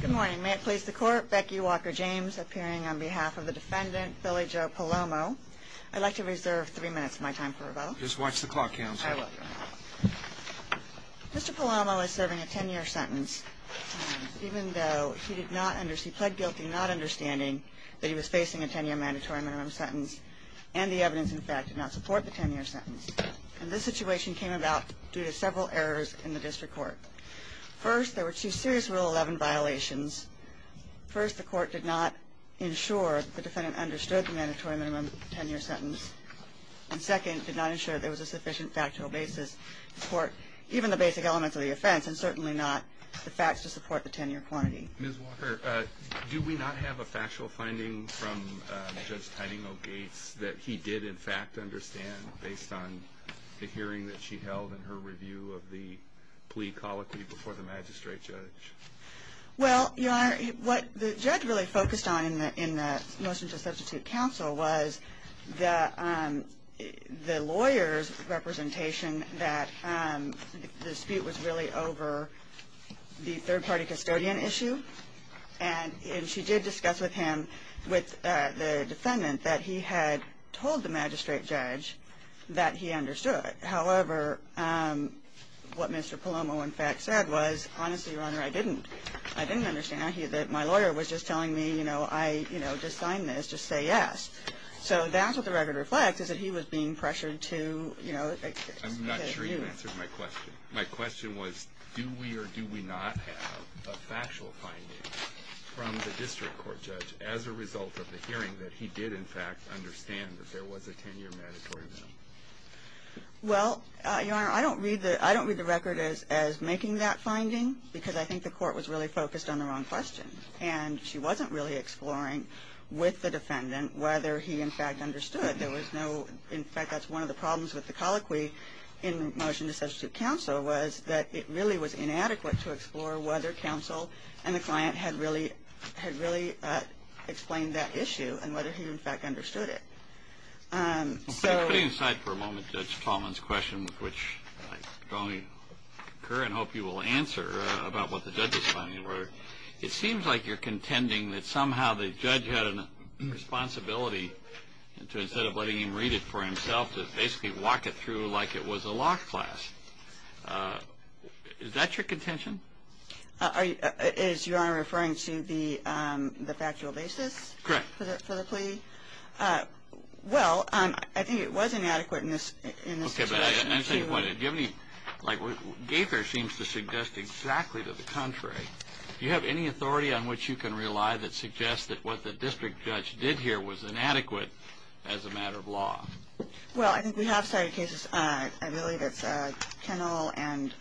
Good morning, may it please the court Becky Walker James appearing on behalf of the defendant Billy Joe Palomo I'd like to reserve three minutes of my time for about just watch the clock Mr. Palomo is serving a 10-year sentence Even though he did not under see pled guilty not understanding that he was facing a 10-year mandatory minimum sentence and the evidence In fact did not support the 10-year sentence and this situation came about due to several errors in the district court First there were two serious rule 11 violations First the court did not ensure the defendant understood the mandatory minimum 10-year sentence And second did not ensure there was a sufficient factual basis Support even the basic elements of the offense and certainly not the facts to support the 10-year quantity Do we not have a factual finding from? Judge, Tidinghall gates that he did in fact understand based on the hearing that she held in her review of the Plea colloquy before the magistrate judge well, you are what the judge really focused on in the in the motion to substitute counsel was the the lawyers representation that The dispute was really over the third party custodian issue and And she did discuss with him with the defendant that he had told the magistrate judge That he understood however What mr. Palomo in fact said was honestly your honor I didn't I didn't understand he that my lawyer was just telling me you know I you know just sign this just say yes So that's what the record reflects is that he was being pressured to you know My question was do we or do we not have a factual finding? From the district court judge as a result of the hearing that he did in fact understand that there was a 10-year mandatory Well Your honor I don't read that I don't read the record as as making that finding because I think the court was really focused on the wrong Question and she wasn't really exploring with the defendant whether he in fact understood There was no in fact that's one of the problems with the colloquy in Motion to substitute counsel was that it really was inadequate to explore whether counsel and the client had really had really Explained that issue and whether he in fact understood it So inside for a moment that's commons question with which only Current hope you will answer about what the judges finding where it seems like you're contending that somehow the judge had an Responsibility and to instead of letting him read it for himself to basically walk it through like it was a law class Is that your contention Is your honor referring to the the factual basis correct for the plea Well, I think it wasn't adequate in this Give me like what Gaither seems to suggest exactly to the contrary Do you have any authority on what you can rely that suggests that what the district judge did here was inadequate as a matter of law? Well, I think we have cited cases. I believe it's a kennel and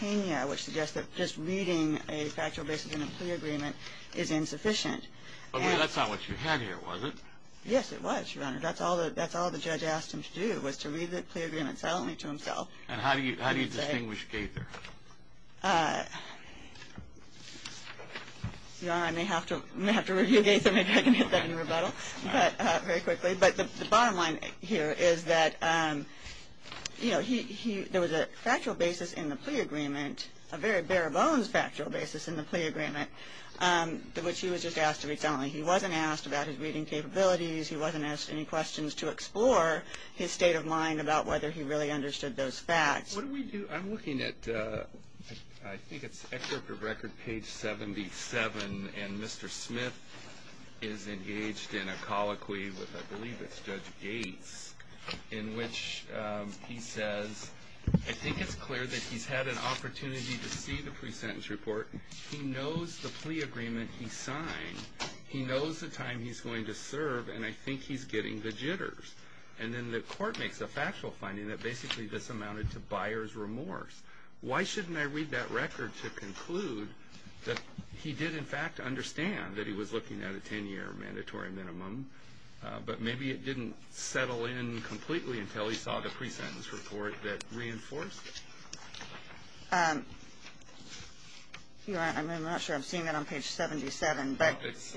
Kenya which suggests that just reading a factual basis in a plea agreement is insufficient That's not what you had here was it? Yes, it was your honor That's all that's all the judge asked him to do was to read the plea agreements only to himself And how do you how do you distinguish Gaither? You know, I may have to have to review Gaither maybe I can hit that in rebuttal but very quickly but the bottom line here is that You know, he there was a factual basis in the plea agreement a very bare-bones factual basis in the plea agreement The which he was just asked to be telling he wasn't asked about his reading capabilities He wasn't asked any questions to explore his state of mind about whether he really understood those facts. What do we do? I'm looking at I think it's record page 77 and mr. Smith is engaged in a colloquy with I believe it's judge Gates in which He says I think it's clear that he's had an opportunity to see the pre-sentence report He knows the plea agreement. He signed He knows the time he's going to serve and I think he's getting the jitters And then the court makes a factual finding that basically this amounted to buyers remorse Why shouldn't I read that record to conclude that he did in fact understand that he was looking at a 10-year mandatory minimum? But maybe it didn't settle in completely until he saw the pre-sentence report that reinforced and I'm not sure. I'm seeing that on page 77, but it's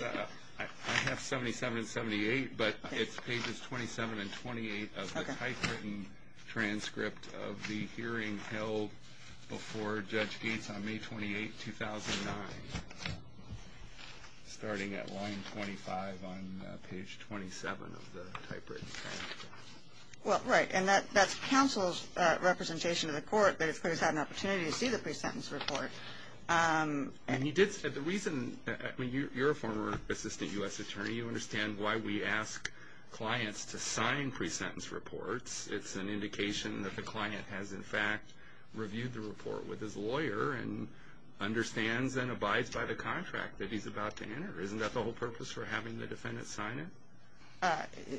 77 78 but it's pages 27 and 28 of the typewritten transcript of the hearing held before judge gates on May 28, 2009 Starting at line 25 on page 27 of the typewritten Well, right and that that's counsel's Representation of the court that it's clear. He's had an opportunity to see the pre-sentence report And he did said the reason when you're a former assistant u.s. Attorney you understand why we ask Clients to sign pre-sentence reports. It's an indication that the client has in fact reviewed the report with his lawyer and Understands and abides by the contract that he's about to enter. Isn't that the whole purpose for having the defendant sign it?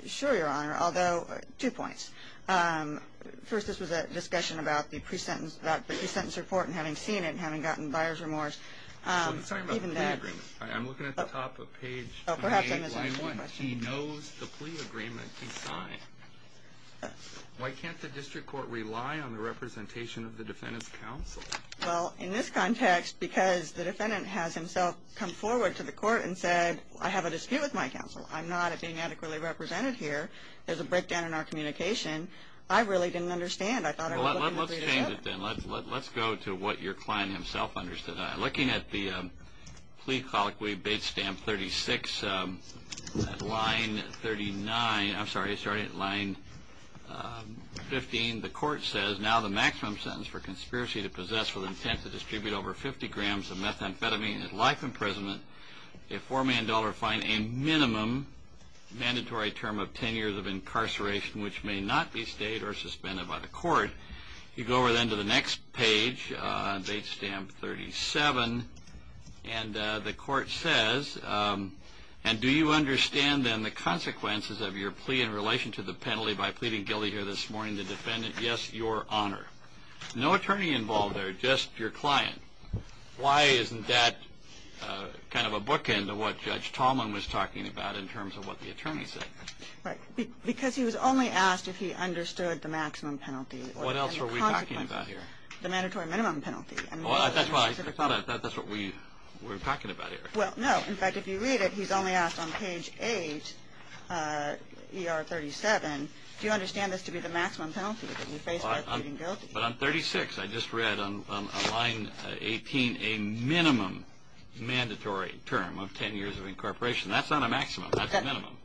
Sure, your honor, although two points First this was a discussion about the pre-sentence about the pre-sentence report and having seen it having gotten buyers remorse I'm sorry, but I'm looking at the top of page He knows the plea agreement he signed Why can't the district court rely on the representation of the defendant's counsel? Well in this context because the defendant has himself come forward to the court and said I have a dispute with my counsel I'm not a being adequately represented here. There's a breakdown in our communication. I really didn't understand Then let's go to what your client himself understood I looking at the plea colloquy bait stamp 36 Line 39. I'm sorry. Sorry at line 15 the court says now the maximum sentence for conspiracy to possess with intent to distribute over 50 grams of methamphetamine at life imprisonment a four-man dollar fine a minimum Mandatory term of 10 years of incarceration which may not be stayed or suspended by the court you go over then to the next page date stamp 37 and the court says And do you understand then the consequences of your plea in relation to the penalty by pleading guilty here this morning the defendant? Yes, your honor No attorney involved there. Just your client. Why isn't that? Kind of a bookend of what judge Tallman was talking about in terms of what the attorney said Right because he was only asked if he understood the maximum penalty. What else were we talking about here the mandatory minimum penalty? That's what we were talking about here. Well. No in fact if you read it. He's only asked on page 8 Er 37 do you understand this to be the maximum penalty? But I'm 36. I just read on line 18 a minimum Mandatory term of 10 years of incorporation. That's not a maximum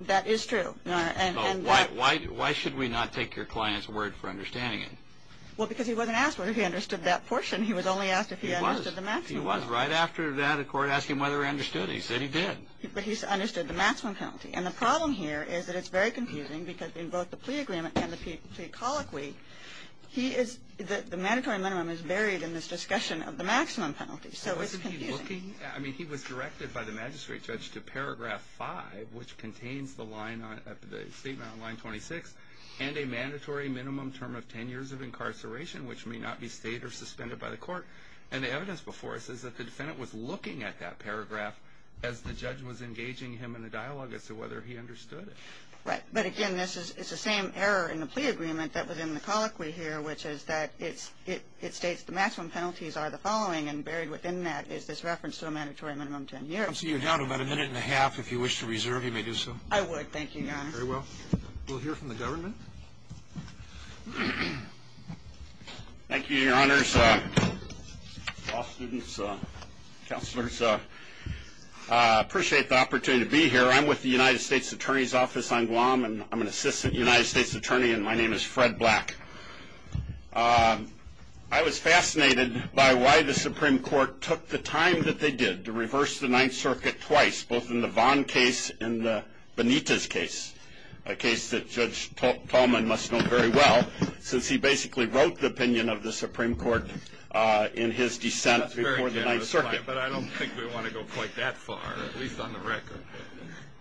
That is true Why why should we not take your client's word for understanding it well because he wasn't asked whether he understood that portion He was only asked if he was the max he was right after that a court asked him whether I understood He said he did But he's understood the maximum penalty and the problem here is that it's very confusing because in both the plea agreement and the people Colloquy he is that the mandatory minimum is buried in this discussion of the maximum penalty Looking I mean he was directed by the magistrate judge to paragraph 5 which contains the line on the statement on line 26 And a mandatory minimum term of 10 years of incarceration Which may not be stayed or suspended by the court and the evidence before us is that the defendant was looking at that paragraph? As the judge was engaging him in the dialogue as to whether he understood it right but again This is it's the same error in the plea agreement that was in the colloquy here Which is that it's it it states the maximum penalties are the following and buried within that is this reference to a mandatory minimum 10? Years you're down about a minute and a half if you wish to reserve you may do so I would thank you Thank you your honors Counselors Appreciate the opportunity to be here. I'm with the United States Attorney's Office on Guam, and I'm an assistant United States attorney And my name is Fred black I was fascinated by why the Supreme Court took the time that they did to reverse the Ninth Circuit twice both in the Vaughn case in Benita's case a case that judge Tallman must know very well since he basically wrote the opinion of the Supreme Court In his descent before the night circuit, but I don't think we want to go quite that far at least on the record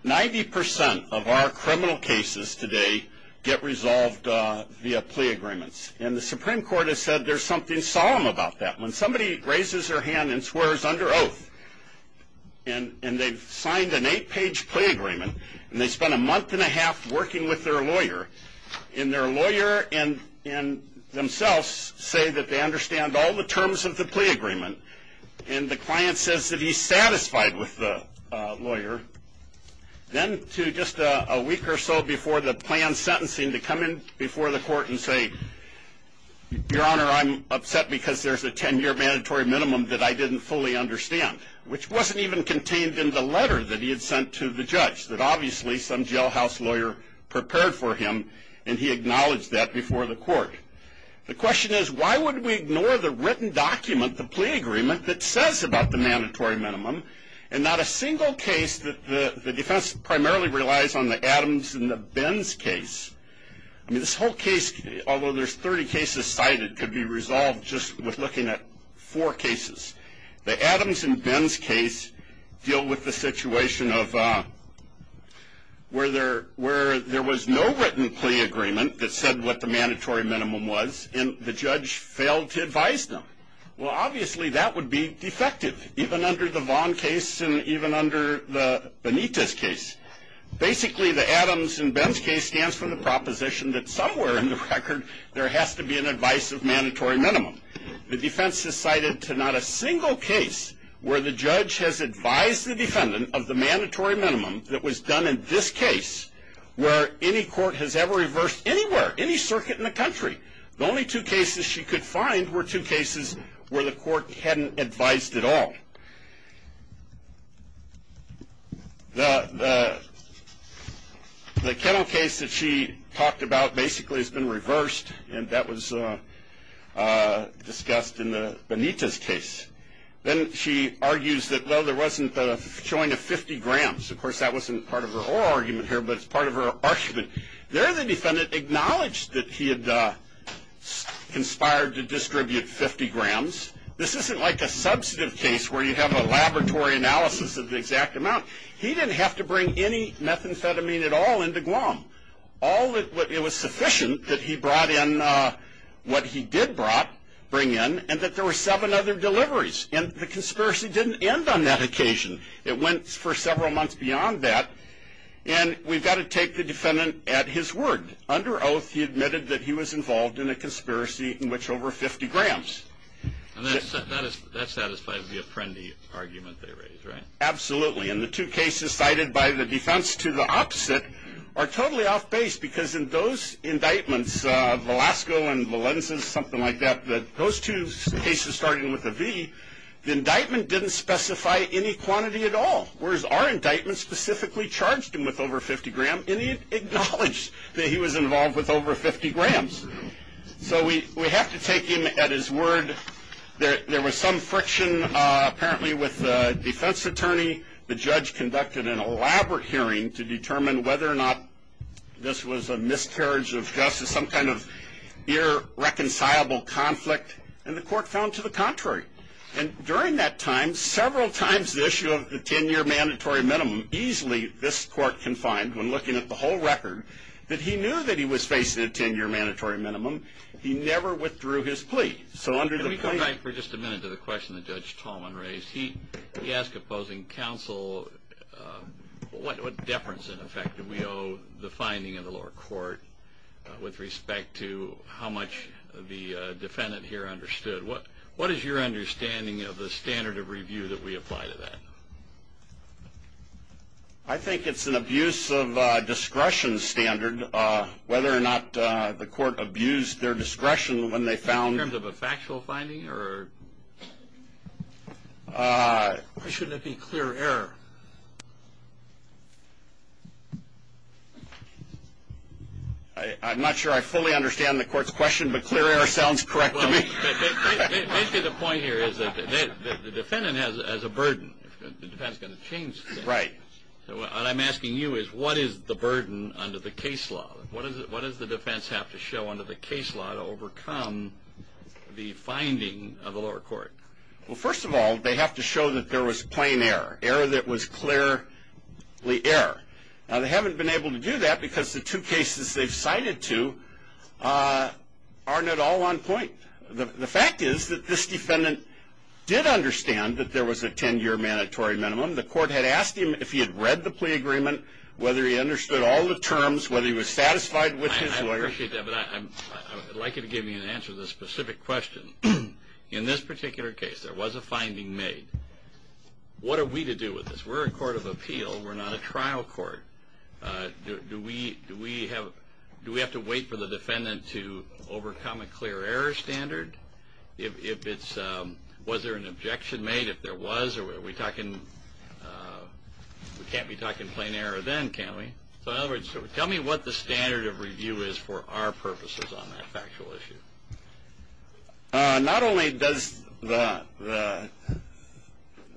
90% of our criminal cases today get resolved Via plea agreements and the Supreme Court has said there's something solemn about that when somebody raises their hand and swears under oath And and they've signed an eight-page plea agreement, and they spent a month and a half working with their lawyer in their lawyer and in themselves say that they understand all the terms of the plea agreement and the client says that he's satisfied with the lawyer Then to just a week or so before the plan sentencing to come in before the court and say Your honor. I'm upset because there's a 10-year mandatory minimum that I didn't fully understand Which wasn't even contained in the letter that he had sent to the judge that obviously some jailhouse lawyer Prepared for him, and he acknowledged that before the court The question is why would we ignore the written document the plea agreement that says about the mandatory minimum and not a single case? The defense primarily relies on the Adams and the Ben's case I mean this whole case although there's 30 cases cited could be resolved just with looking at four cases the Adams and Ben's case deal with the situation of Where there where there was no written plea agreement that said what the mandatory minimum was in the judge failed to advise them Well, obviously that would be defective even under the Vaughn case and even under the Benitez case Basically the Adams and Ben's case stands for the proposition that somewhere in the record there has to be an advice of mandatory minimum The defense has cited to not a single case Where the judge has advised the defendant of the mandatory minimum that was done in this case Where any court has ever reversed anywhere any circuit in the country the only two cases she could find were two cases Where the court hadn't advised at all? The The kennel case that she talked about basically has been reversed and that was Discussed in the Benitez case Then she argues that though there wasn't the showing of 50 grams of course that wasn't part of her argument here But it's part of her argument there the defendant acknowledged that he had Conspired to distribute 50 grams This isn't like a substantive case where you have a laboratory analysis of the exact amount he didn't have to bring any Methamphetamine at all into Guam all that what it was sufficient that he brought in What he did brought bring in and that there were seven other deliveries and the conspiracy didn't end on that occasion It went for several months beyond that and we've got to take the defendant at his word under oath He admitted that he was involved in a conspiracy in which over 50 grams Absolutely and the two cases cited by the defense to the opposite are totally off-base because in those indictments of Alaska and Valenza's something like that that those two cases starting with the V The indictment didn't specify any quantity at all whereas our indictment specifically charged him with over 50 gram any Acknowledged that he was involved with over 50 grams So we we have to take him at his word There there was some friction Apparently with the defense attorney the judge conducted an elaborate hearing to determine whether or not This was a miscarriage of justice some kind of irreconcilable Conflict and the court found to the contrary and during that time several times the issue of the 10-year mandatory Minimum easily this court can find when looking at the whole record that he knew that he was facing a 10-year mandatory minimum He never withdrew his plea. So under the we come back for just a minute to the question the judge Talman raised He he asked opposing counsel What what deference in effect do we owe the finding in the lower court? With respect to how much the defendant here understood what what is your understanding of the standard of review that we apply to that? I think it's an abuse of discretion standard whether or not the court abused their discretion when they found of a factual finding or Shouldn't it be clear error? I'm not sure. I fully understand the court's question, but clear air sounds correct Into the point here is that the defendant has as a burden Right. So what I'm asking you is what is the burden under the case law? What is it? What does the defense have to show under the case law to overcome? The finding of the lower court. Well, first of all, they have to show that there was plain error error. That was clear We air now they haven't been able to do that because the two cases they've cited to Aren't at all on point the fact is that this defendant Did understand that there was a 10-year mandatory minimum the court had asked him if he had read the plea agreement Whether he understood all the terms whether he was satisfied with his lawyer Like it gave me an answer to the specific question in this particular case. There was a finding made What are we to do with this? We're a court of appeal. We're not a trial court Do we do we have do we have to wait for the defendant to overcome a clear error standard if it's Was there an objection made if there was or were we talking? We can't be talking plain error then can we so in other words tell me what the standard of review is for our purposes on that factual issue Not only does the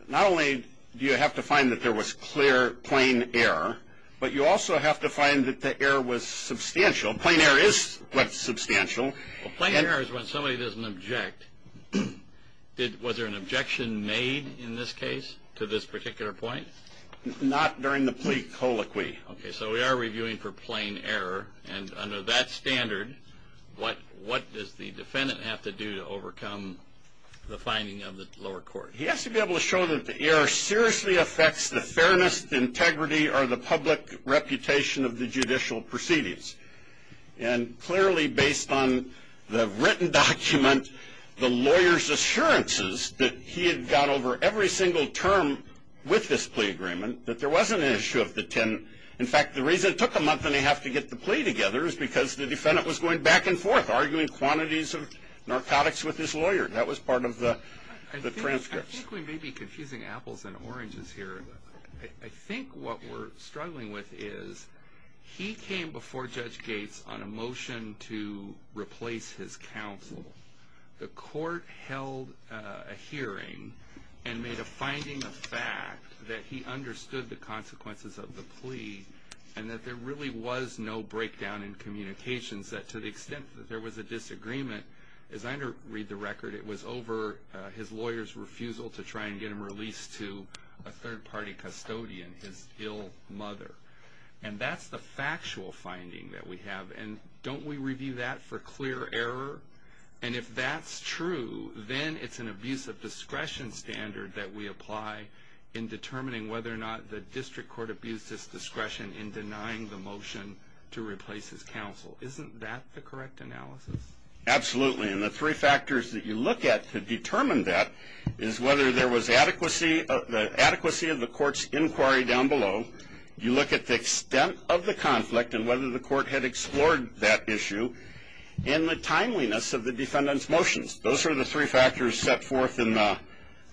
Not Only do you have to find that there was clear plain error But you also have to find that the air was substantial plain air is what's substantial plain air is when somebody doesn't object Did was there an objection made in this case to this particular point? Not during the plea colloquy. Okay, so we are reviewing for plain error and under that standard What what does the defendant have to do to overcome? The finding of the lower court He has to be able to show that the air seriously affects the fairness the integrity or the public reputation of the judicial proceedings and clearly based on the written document The lawyers assurances that he had got over every single term With this plea agreement that there was an issue of the ten in fact the reason it took a month and they have to get the plea together is because the defendant was going back and forth arguing quantities of That was part of the Confusing apples and oranges here. I think what we're struggling with is He came before Judge Gates on a motion to replace his counsel the court held a hearing and made a finding of fact that he understood the Consequences of the plea and that there really was no breakdown in communications that to the extent that there was a disagreement As I under read the record it was over his lawyers refusal to try and get him released to a third-party Custodian his ill mother and that's the factual finding that we have and don't we review that for clear error? And if that's true, then it's an abuse of discretion Standard that we apply in determining whether or not the district court abused its discretion in denying the motion To replace his counsel, isn't that the correct analysis? Absolutely And the three factors that you look at to determine that is whether there was adequacy of the adequacy of the court's inquiry down below You look at the extent of the conflict and whether the court had explored that issue In the timeliness of the defendant's motions. Those are the three factors set forth in the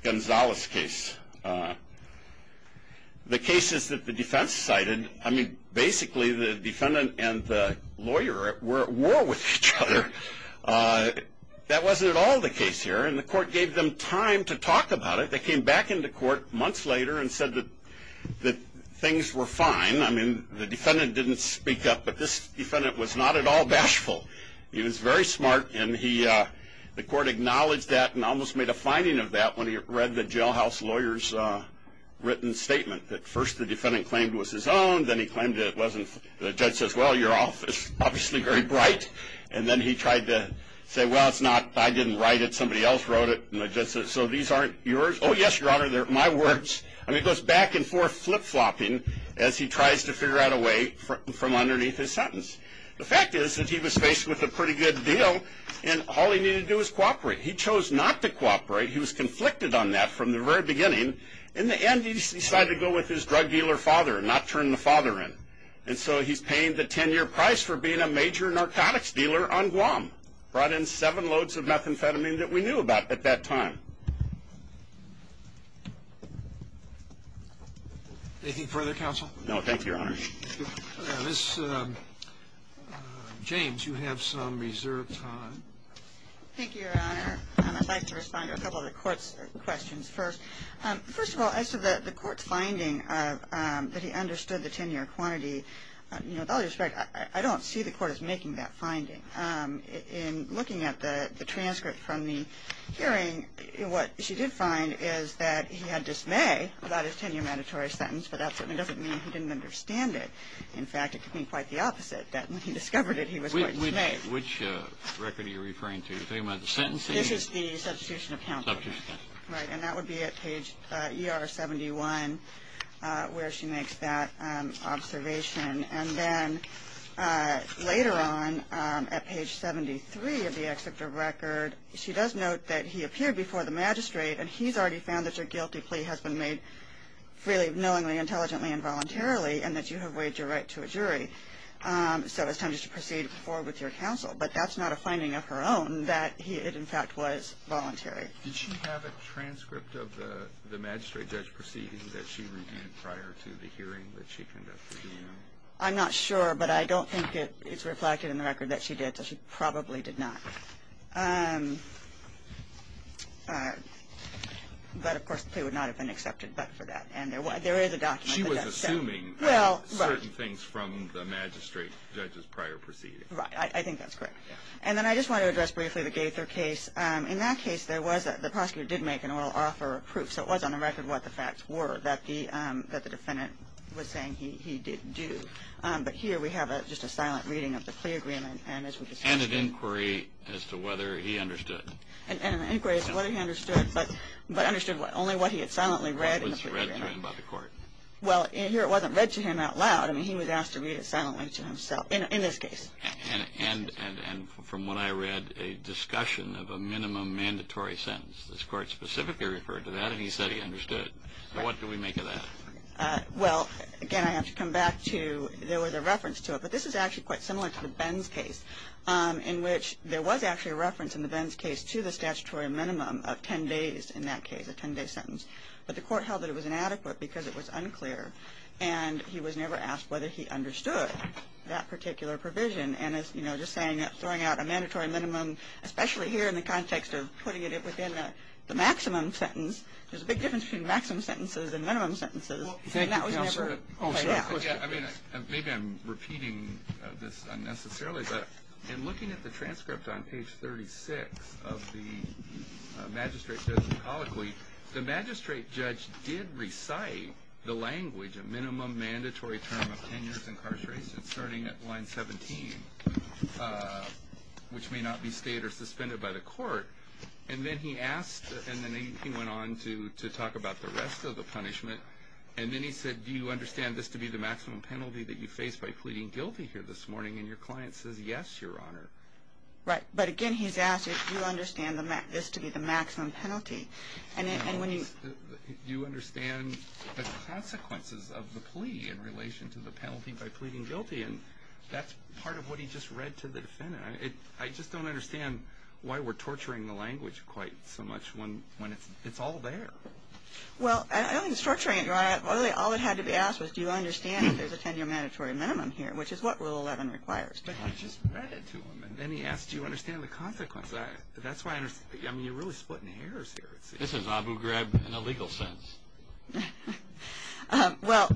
Gonzales case The Cases that the defense cited I mean basically the defendant and the lawyer were at war with each other That wasn't at all the case here and the court gave them time to talk about it They came back into court months later and said that that things were fine I mean the defendant didn't speak up, but this defendant was not at all bashful He was very smart And he the court acknowledged that and almost made a finding of that when he read the jailhouse lawyers Written statement that first the defendant claimed was his own then he claimed it wasn't the judge says well your office Obviously very bright and then he tried to say well, it's not I didn't write it Somebody else wrote it and I just said so these aren't yours. Oh, yes, your honor They're my words I mean it goes back and forth flip-flopping as he tries to figure out a way from underneath his sentence The fact is that he was faced with a pretty good deal and all he needed to do is cooperate He chose not to cooperate He was conflicted on that from the very beginning in the end He decided to go with his drug dealer father and not turn the father in and so he's paying the ten-year price for being a Major narcotics dealer on Guam brought in seven loads of methamphetamine that we knew about at that time Thank You further counsel no, thank you your honor this James you have some reserve time Thank you your honor. I'd like to respond to a couple of the court's questions first. First of all, I said that the court's finding That he understood the ten-year quantity You know dollars, right? I don't see the court is making that finding In looking at the transcript from the hearing what she did find is that he had dismay about his ten-year mandatory Sentence, but that doesn't mean he didn't understand it In fact, it could mean quite the opposite that when he discovered it He was with me which record you're referring to the sentence. This is the substitution account Right, and that would be at page ER 71 where she makes that observation and then Later on at page 73 of the excerpt of record She does note that he appeared before the magistrate and he's already found that your guilty plea has been made Freely knowingly intelligently involuntarily and that you have waived your right to a jury So it's time just to proceed before with your counsel, but that's not a finding of her own that he it in fact was voluntary Did she have a transcript of the the magistrate judge proceeding that she reviewed prior to the hearing that she conducted? I'm not sure but I don't think it it's reflected in the record that she did so she probably did not But of course they would not have been accepted but for that and there was there is a document She was assuming well certain things from the magistrate judges prior proceeding, right? I think that's correct And then I just want to address briefly the Gaither case In that case there was that the prosecutor did make an oral offer So it was on the record what the facts were that the that the defendant was saying he did do but here we have a just a silent reading of the plea agreement and as we inquiry as to whether he understood and Understood but but understood what only what he had silently read Well in here it wasn't read to him out loud I mean he was asked to read it silently to himself in this case and and and from what I read a Specifically referred to that and he said he understood what do we make of that? Well again, I have to come back to there was a reference to it But this is actually quite similar to the Ben's case In which there was actually a reference in the Ben's case to the statutory minimum of 10 days in that case a 10-day sentence but the court held that it was inadequate because it was unclear and He was never asked whether he understood that particular provision and as you know Throwing out a mandatory minimum, especially here in the context of putting it within the maximum sentence There's a big difference between maximum sentences and minimum sentences Maybe I'm repeating this unnecessarily, but in looking at the transcript on page 36 of the Magistrate doesn't colloquy the magistrate judge did recite the language a minimum mandatory term of 10 years incarceration starting at line 17 Which may not be stayed or suspended by the court and then he asked and then he went on to to talk about the rest Of the punishment and then he said do you understand this to be the maximum penalty that you face by pleading guilty here this morning? And your client says yes, your honor Right, but again, he's asked if you understand the map is to be the maximum penalty and when you do understand Consequences of the plea in relation to the penalty by pleading guilty and that's part of what he just read to the defendant I just don't understand why we're torturing the language quite so much when when it's it's all there Well, I don't mean structuring it. You're I have only all it had to be asked was do you understand? There's a 10-year mandatory minimum here, which is what will 11 requires Then he asked you understand the consequence. That's why I mean you're really splitting hairs here. This is Abu grab in a legal sense Well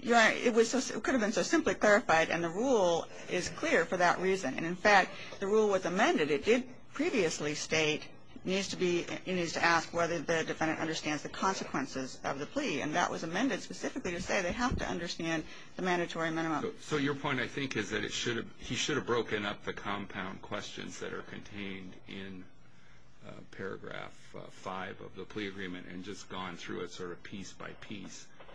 Yeah, it was it could have been so simply clarified and the rule is clear for that reason And in fact the rule was amended it did previously state Needs to be it needs to ask whether the defendant understands the consequences of the plea and that was amended specifically to say they have To understand the mandatory minimum. So your point I think is that it should have he should have broken up the compound questions that are contained in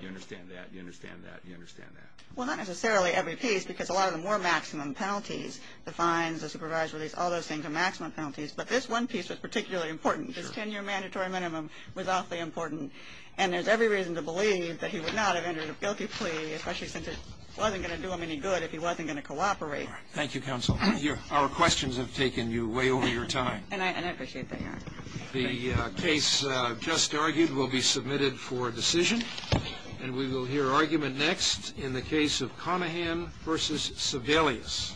You understand that you understand that you understand that well Not necessarily every piece because a lot of the more maximum penalties the fines the supervisory's all those things are maximum penalties But this one piece was particularly important It's 10-year mandatory minimum was awfully important and there's every reason to believe that he would not have entered a guilty plea Especially since it wasn't gonna do him any good if he wasn't going to cooperate Thank you counsel here our questions have taken you way over your time And I appreciate that the case just argued will be submitted for decision And we will hear argument next in the case of Connahan versus Sebelius